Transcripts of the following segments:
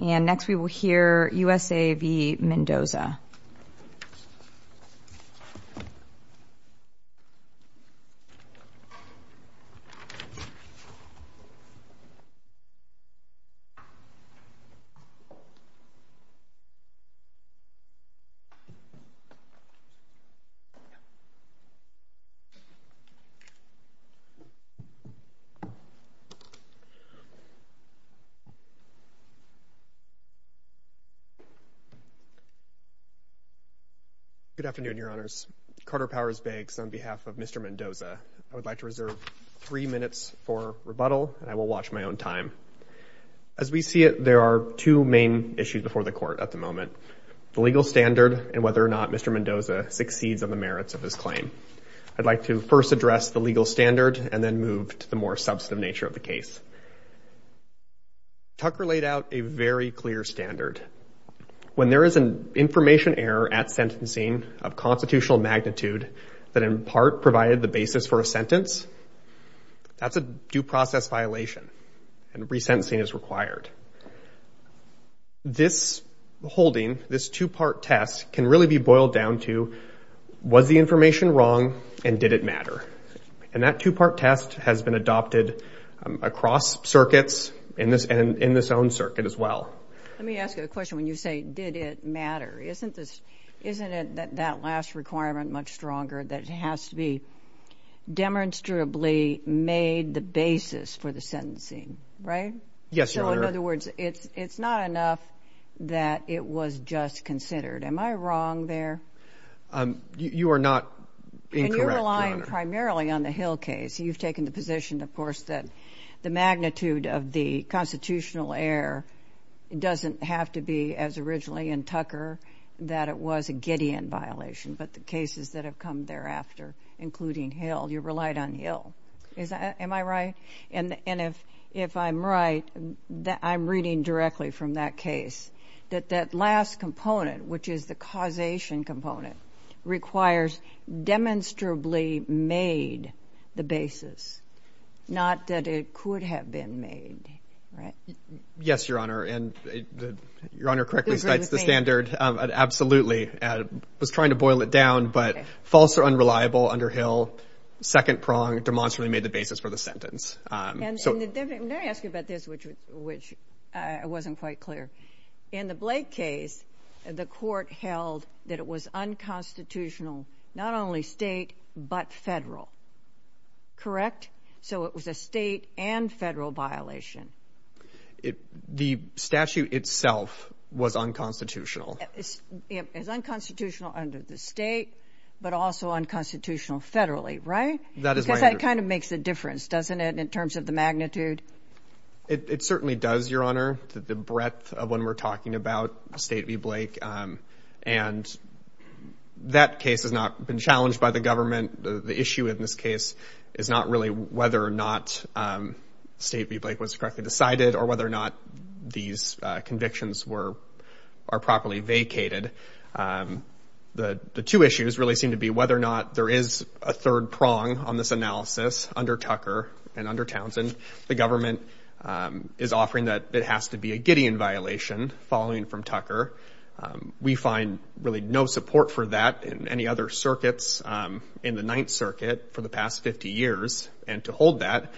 and next we will hear USA v. Mendoza Good afternoon, your honors. Carter Powers begs on behalf of Mr. Mendoza, I would like to reserve three minutes for rebuttal and I will watch my own time. As we see it, there are two main issues before the court at the moment, the legal standard and whether or not Mr. Mendoza succeeds on the merits of his claim. I'd like to first address the legal standard and then move to the more substantive nature of the case. Tucker laid out a very clear standard. When there is an information error at sentencing of constitutional magnitude that in part provided the basis for a sentence, that's a due process violation and resentencing is required. This holding, this two-part test can really be boiled down to was the information wrong and did it matter? And that two-part test has been adopted across circuits and in this own circuit as well. Let me ask you a question, when you say did it matter, isn't this, isn't it that last requirement much stronger that it has to be demonstrably made the basis for the sentencing, right? Yes, your honor. So in other words, it's not enough that it was just considered, am I wrong there? You are not incorrect. And you're relying primarily on the Hill case. You've taken the position of course that the magnitude of the constitutional error doesn't have to be as originally in Tucker that it was a Gideon violation, but the cases that have come thereafter, including Hill, you relied on Hill. Am I right? And if I'm right, I'm reading directly from that case that that last component, which is the causation component, requires demonstrably made the basis, not that it could have been made. Right? Yes, your honor. And your honor correctly cites the standard of absolutely, I was trying to boil it down, but false or unreliable under Hill, second prong demonstrably made the basis for the sentence. Let me ask you about this, which wasn't quite clear. In the Blake case, the court held that it was unconstitutional, not only state, but federal, correct? So it was a state and federal violation. The statute itself was unconstitutional. It's unconstitutional under the state, but also unconstitutional federally, right? That is my understanding. Because that kind of makes a difference, doesn't it, in terms of the magnitude? It certainly does, your honor, the breadth of when we're talking about State v. Blake. And that case has not been challenged by the government. The issue in this case is not really whether or not State v. Blake was correctly decided or whether or not these convictions were, are properly vacated. The two issues really seem to be whether or not there is a third prong on this analysis under Tucker and under Townsend. The government is offering that it has to be a Gideon violation following from Tucker. We find really no support for that in any other circuits in the Ninth Circuit for the past 50 years. And to hold that,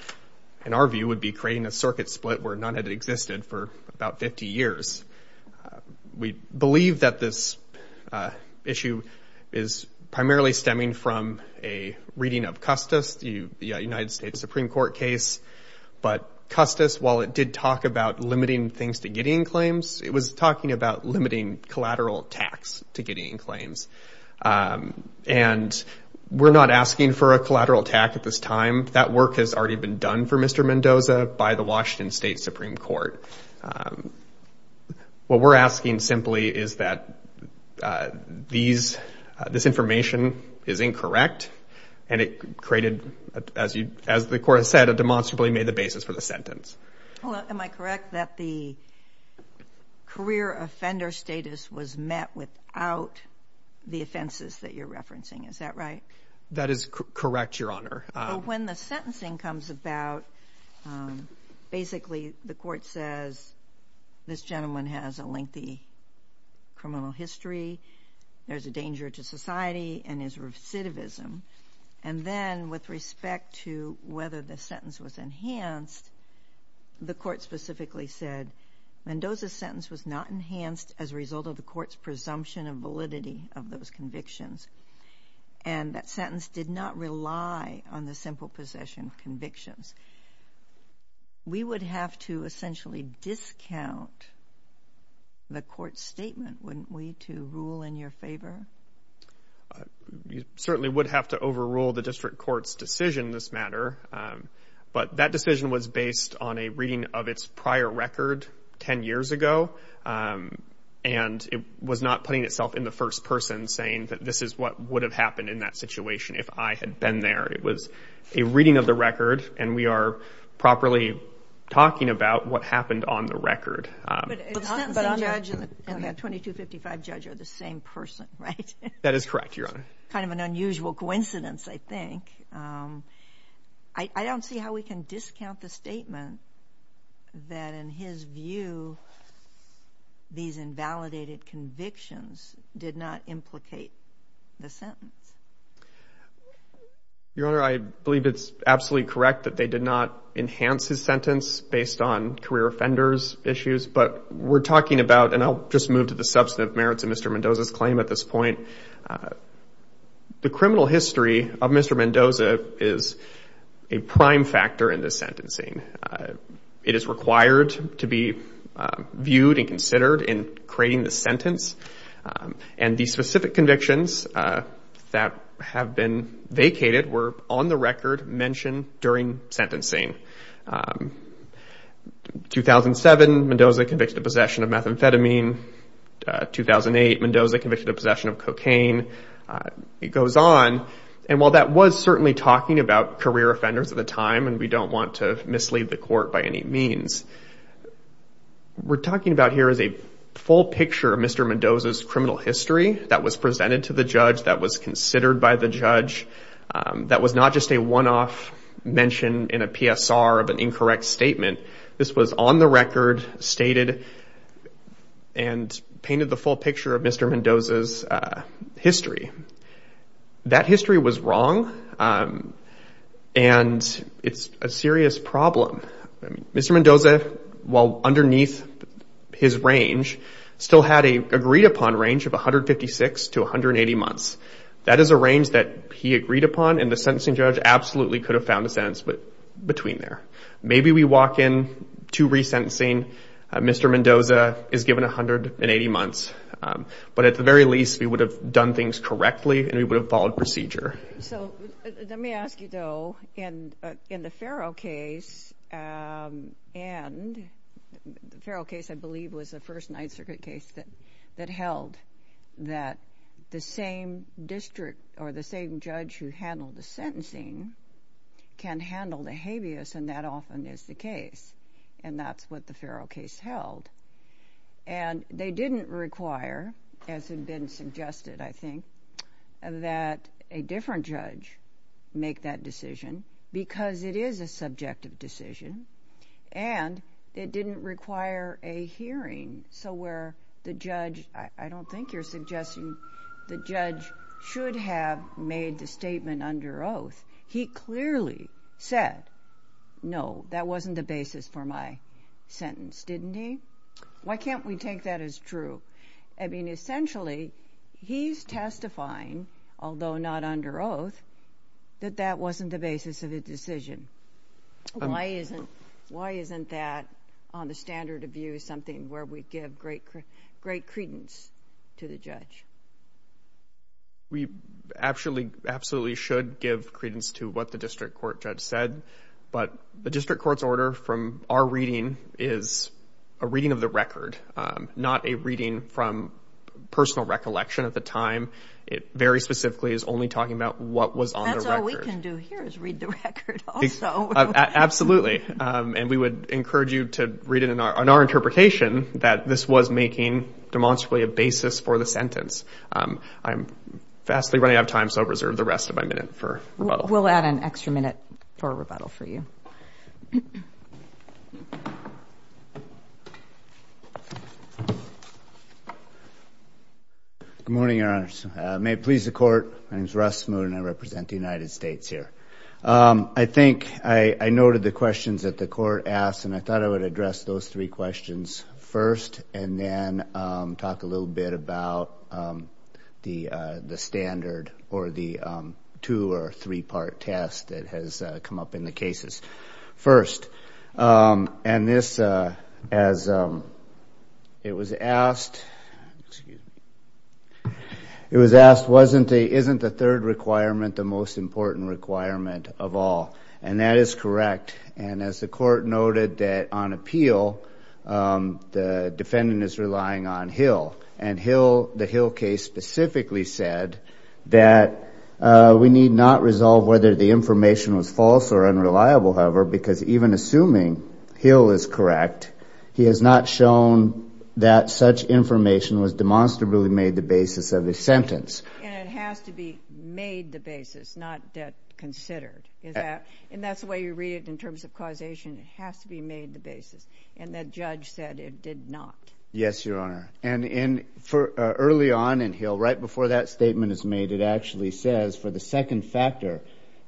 in our view, would be creating a circuit split where none had existed for about 50 years. We believe that this issue is primarily stemming from a reading of Custis. The United States Supreme Court case. But Custis, while it did talk about limiting things to Gideon claims, it was talking about limiting collateral attacks to Gideon claims. And we're not asking for a collateral attack at this time. That work has already been done for Mr. Mendoza by the Washington State Supreme Court. What we're asking simply is that these, this information is incorrect and it created, as you, as the court has said, it demonstrably made the basis for the sentence. Am I correct that the career offender status was met without the offenses that you're referencing? Is that right? That is correct, Your Honor. But when the sentencing comes about, basically the court says, this gentleman has a lengthy criminal history, there's a danger to society, and is recidivism. And then with respect to whether the sentence was enhanced, the court specifically said Mendoza's sentence was not enhanced as a result of the court's presumption of validity of those convictions. And that sentence did not rely on the simple possession of convictions. We would have to essentially discount the court's statement, wouldn't we, to rule in your favor? You certainly would have to overrule the district court's decision in this matter. But that decision was based on a reading of its prior record 10 years ago. And it was not putting itself in the first person, saying that this is what would have happened in that situation if I had been there. It was a reading of the record, and we are properly talking about what happened on the record. But the sentencing judge and that 2255 judge are the same person, right? That is correct, Your Honor. Kind of an unusual coincidence, I think. I don't see how we can discount the statement that, in his view, these invalidated convictions did not implicate the sentence. Your Honor, I believe it's absolutely correct that they did not enhance his sentence based on career offenders' issues. But we're talking about, and I'll just move to the substantive merits of Mr. Mendoza's point, the criminal history of Mr. Mendoza is a prime factor in this sentencing. It is required to be viewed and considered in creating the sentence. And the specific convictions that have been vacated were, on the record, mentioned during sentencing. 2007, Mendoza convicted of possession of methamphetamine. 2008, Mendoza convicted of possession of cocaine. It goes on. And while that was certainly talking about career offenders at the time, and we don't want to mislead the court by any means, what we're talking about here is a full picture of Mr. Mendoza's criminal history that was presented to the judge, that was considered by the judge, that was not just a one-off mention in a PSR of an incorrect statement. This was on the record, stated, and painted the full picture of Mr. Mendoza's history. That history was wrong, and it's a serious problem. Mr. Mendoza, while underneath his range, still had an agreed-upon range of 156 to 180 months. That is a range that he agreed upon, and the sentencing judge absolutely could have found a sentence between there. Maybe we walk in to resentencing, Mr. Mendoza is given 180 months. But at the very least, we would have done things correctly, and we would have followed procedure. So, let me ask you, though, in the Farrell case, and the Farrell case, I believe, was the first Ninth Circuit case that held that the same district, or the same judge who handled the sentencing, can handle the habeas, and that often is the case. And that's what the Farrell case held. And they didn't require, as had been suggested, I think, that a different judge make that decision, because it is a subjective decision, and it didn't require a hearing, so where I don't think you're suggesting the judge should have made the statement under oath, he clearly said, no, that wasn't the basis for my sentence, didn't he? Why can't we take that as true? I mean, essentially, he's testifying, although not under oath, that that wasn't the basis of his decision. Why isn't that, on the standard of view, something where we give great credence to the judge? We absolutely should give credence to what the district court judge said, but the district court's order from our reading is a reading of the record, not a reading from personal recollection at the time. It very specifically is only talking about what was on the record. What we can do here is read the record also. Absolutely. And we would encourage you to read it in our interpretation that this was making demonstrably a basis for the sentence. I'm vastly running out of time, so I'll reserve the rest of my minute for rebuttal. We'll add an extra minute for rebuttal for you. Good morning, Your Honor. May it please the Court. My name's Russ Moon, and I represent the United States here. I think I noted the questions that the Court asked, and I thought I would address those three questions first, and then talk a little bit about the standard or the two- or three-part test that has come up in the cases first. And this, as it was asked, wasn't the third requirement the most important requirement of all? And that is correct. And as the Court noted that on appeal, the defendant is relying on Hill. And the Hill case specifically said that we need not resolve whether the information was or unreliable, however, because even assuming Hill is correct, he has not shown that such information was demonstrably made the basis of the sentence. And it has to be made the basis, not considered. And that's the way you read it in terms of causation. It has to be made the basis. And the judge said it did not. Yes, Your Honor. And early on in Hill, right before that statement is made, it actually says for the second factor,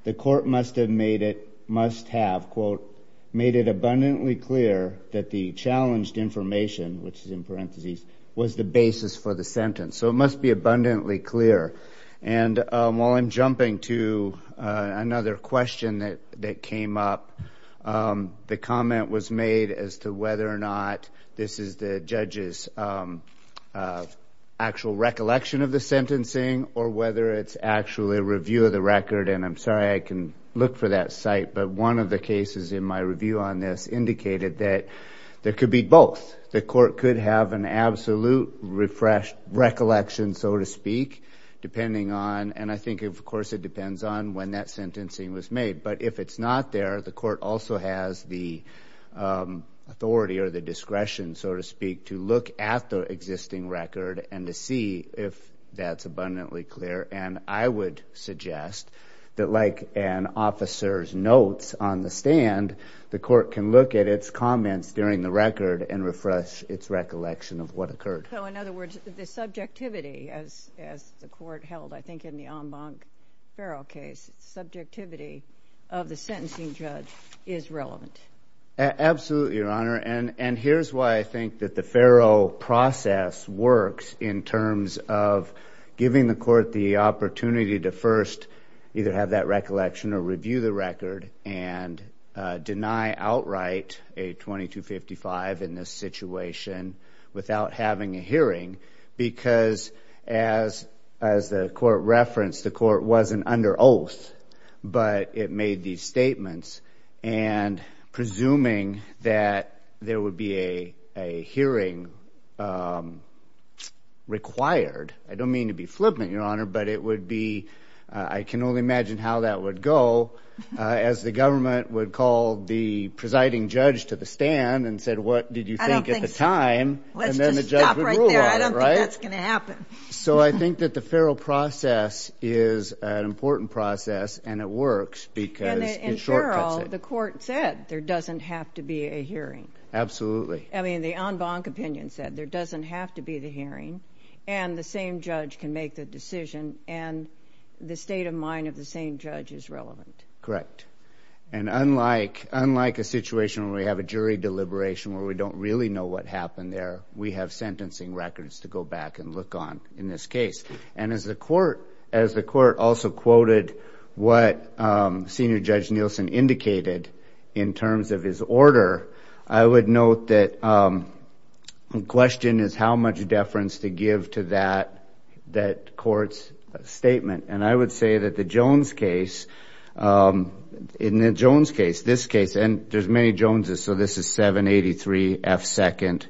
the Court must have made it, must have, quote, made it abundantly clear that the challenged information, which is in parentheses, was the basis for the sentence. So it must be abundantly clear. And while I'm jumping to another question that came up, the comment was made as to whether or not this is the judge's actual recollection of the sentencing, or whether it's actually the review of the record. And I'm sorry I can look for that site, but one of the cases in my review on this indicated that there could be both. The Court could have an absolute recollection, so to speak, depending on, and I think, of course, it depends on when that sentencing was made. But if it's not there, the Court also has the authority or the discretion, so to speak, to look at the existing record and to see if that's abundantly clear. And I would suggest that, like an officer's notes on the stand, the Court can look at its comments during the record and refresh its recollection of what occurred. So, in other words, the subjectivity, as the Court held, I think, in the Ombank-Ferrell case, subjectivity of the sentencing judge is relevant. Absolutely, Your Honor. And here's why I think that the Ferrell process works in terms of giving the Court the opportunity to first either have that recollection or review the record and deny outright a 2255 in this situation without having a hearing. Because as the Court referenced, the Court wasn't under oath, but it made these statements. And presuming that there would be a hearing required, I don't mean to be flippant, Your Honor, but it would be, I can only imagine how that would go, as the government would call the presiding judge to the stand and said, what did you think at the time, and then the judge would rule on it, right? Let's just stop right there. I don't think that's going to happen. So, I think that the Ferrell process is an important process, and it works because in the Ferrell, the Court said there doesn't have to be a hearing. Absolutely. I mean, the Ombank opinion said there doesn't have to be the hearing, and the same judge can make the decision, and the state of mind of the same judge is relevant. Correct. And unlike a situation where we have a jury deliberation where we don't really know what happened there, we have sentencing records to go back and look on in this case. And as the Court also quoted what Senior Judge Nielsen indicated in terms of his order, I would note that the question is how much deference to give to that Court's statement. And I would say that the Jones case, in the Jones case, this case, and there's many Joneses, so this is 783 F. 2nd,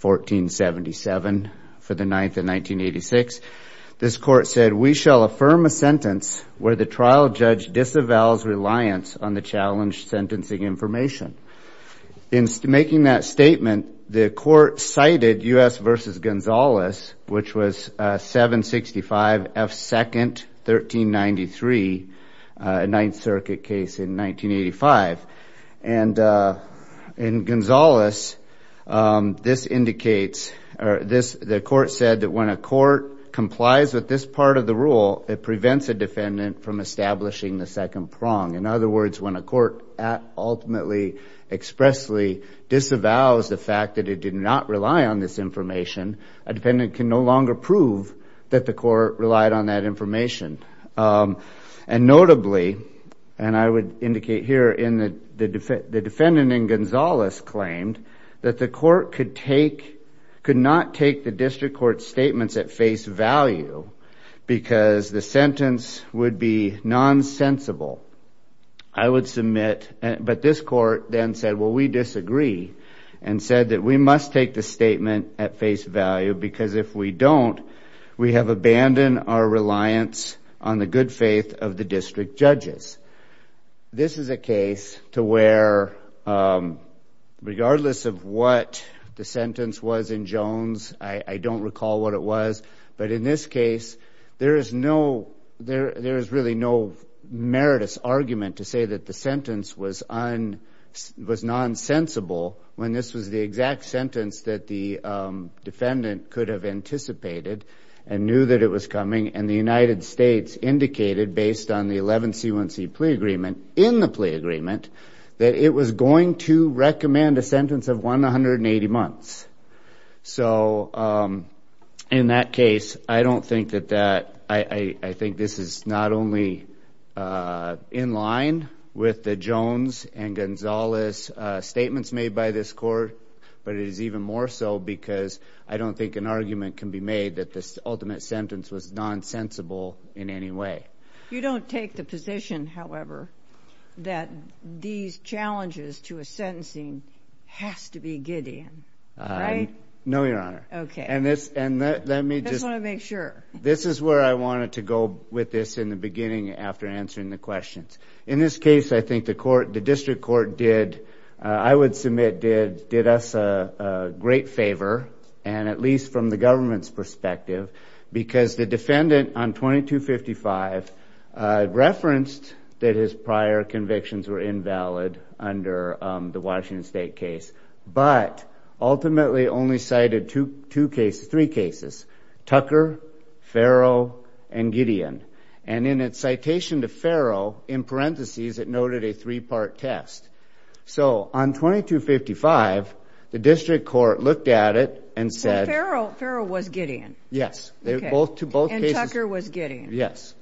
1477 for the 9th of 1986. This Court said, we shall affirm a sentence where the trial judge disavows reliance on the challenged sentencing information. In making that statement, the Court cited U.S. v. Gonzales, which was 765 F. 2nd, 1393, 9th Circuit case in 1985. And in Gonzales, this indicates, the Court said that when a court complies with this part of the rule, it prevents a defendant from establishing the second prong. In other words, when a court ultimately expressly disavows the fact that it did not rely on this information, a defendant can no longer prove that the court relied on that information. And notably, and I would indicate here, the defendant in Gonzales claimed that the Court could not take the District Court's statements at face value because the sentence would be non-sensible. I would submit, but this Court then said, well, we disagree, and said that we must take the statement at face value because if we don't, we have abandoned our reliance on the good faith of the district judges. This is a case to where, regardless of what the sentence was in Jones, I don't recall what it was, but in this case, there is no, there is really no meritous argument to say that the sentence was non-sensible when this was the exact sentence that the defendant could have anticipated and knew that it was coming, and the United States indicated, based on the 11C1C plea agreement, in the plea agreement, that it was going to recommend a sentence of 180 months. So in that case, I don't think that that, I think this is not only in line with the Jones and Gonzales statements made by this Court, but it is even more so because I don't think an argument can be made that this ultimate sentence was non-sensible in any way. You don't take the position, however, that these challenges to a sentencing has to be Gideon, right? No, Your Honor. Okay. And this, and let me just, this is where I wanted to go with this in the beginning after answering the questions. In this case, I think the court, the district court did, I would submit did, did us a great favor, and at least from the government's perspective, because the defendant on 2255 referenced that his prior convictions were invalid under the Washington State case, but ultimately only cited two cases, three cases, Tucker, Farrow, and Gideon. And in its citation to Farrow, in parentheses, it noted a three-part test. So on 2255, the district court looked at it and said... Farrow, Farrow was Gideon. Yes. They were both, to both cases... And Tucker was Gideon. Yes.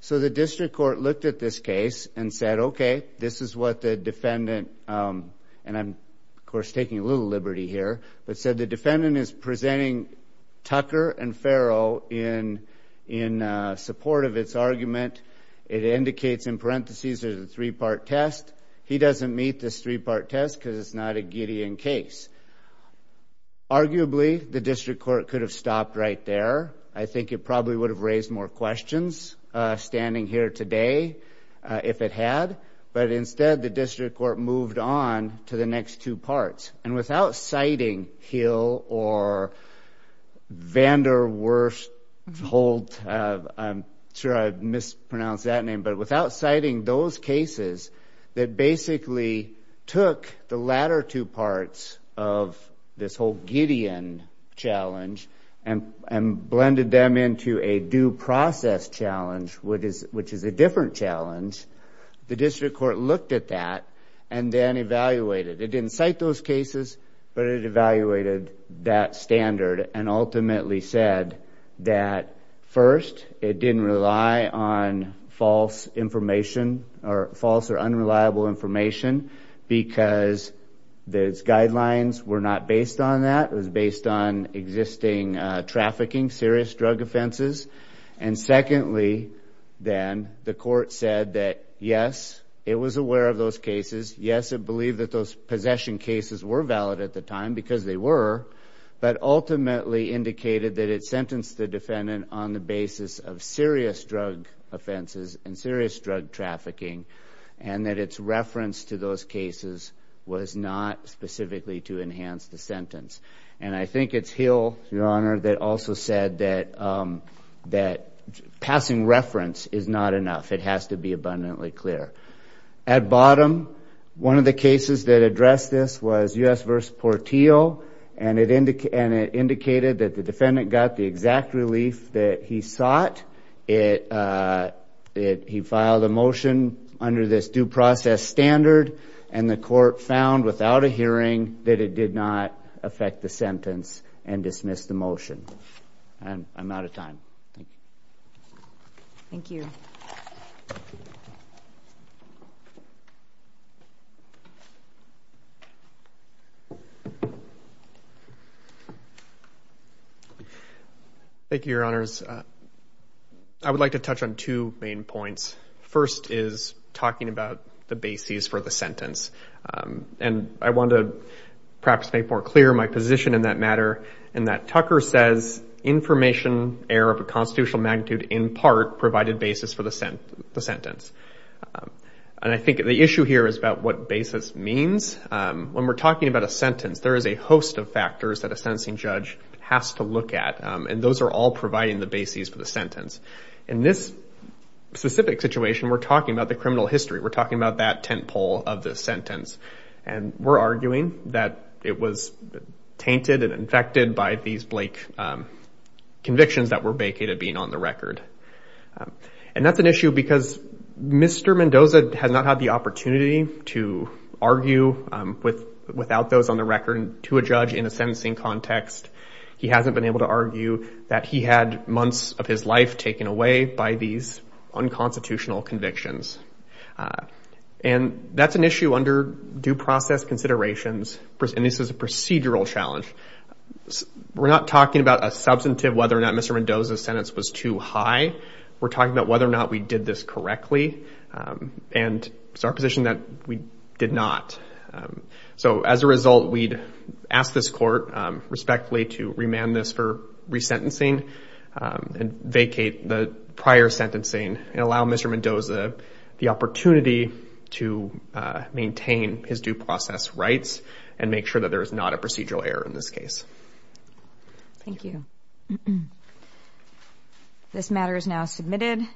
So the district court looked at this case and said, okay, this is what the defendant, and I'm, of course, taking a little liberty here, but said the defendant is presenting Tucker and Farrow in, in support of its argument. It indicates in parentheses, there's a three-part test. He doesn't meet this three-part test because it's not a Gideon case. Arguably, the district court could have stopped right there. I think it probably would have raised more questions standing here today if it had. But instead, the district court moved on to the next two parts. And without citing Hill or Vanderwerfhold, I'm sure I mispronounced that name, but it basically took the latter two parts of this whole Gideon challenge and, and blended them into a due process challenge, which is, which is a different challenge. The district court looked at that and then evaluated. It didn't cite those cases, but it evaluated that standard and ultimately said that first, it didn't rely on false information or false or unreliable information because those guidelines were not based on that. It was based on existing trafficking, serious drug offenses. And secondly, then the court said that, yes, it was aware of those cases. Yes, it believed that those possession cases were valid at the time because they were, but ultimately indicated that it sentenced the defendant on the basis of serious drug offenses and serious drug trafficking, and that its reference to those cases was not specifically to enhance the sentence. And I think it's Hill, Your Honor, that also said that, that passing reference is not enough. It has to be abundantly clear. At bottom, one of the cases that addressed this was U.S. Portillo, and it indicated that the defendant got the exact relief that he sought. It, he filed a motion under this due process standard and the court found without a hearing that it did not affect the sentence and dismissed the motion. And I'm out of time. Thank you. Thank you, Your Honors. I would like to touch on two main points. First is talking about the basis for the sentence. And I want to perhaps make more clear my position in that matter, in that Tucker says information error of a constitutional magnitude in part provided basis for the sentence. And I think the issue here is about what basis means. When we're talking about a sentence, there is a host of factors that a sentencing judge has to look at, and those are all providing the basis for the sentence. In this specific situation, we're talking about the criminal history. We're talking about that tent pole of the sentence. And we're arguing that it was tainted and infected by these Blake convictions that were vacated being on the record. And that's an issue because Mr. Mendoza has not had the opportunity to argue without those on the record to a judge in a sentencing context. He hasn't been able to argue that he had months of his life taken away by these unconstitutional convictions. And that's an issue under due process considerations. And this is a procedural challenge. We're not talking about a substantive whether or not Mr. Mendoza's sentence was too high. We're talking about whether or not we did this correctly and it's our position that we did not. So as a result, we'd ask this court respectfully to remand this for resentencing and vacate the prior sentencing and allow Mr. Mendoza the opportunity to maintain his due process rights and make sure that there is not a second to this case. Thank you. This matter is now submitted.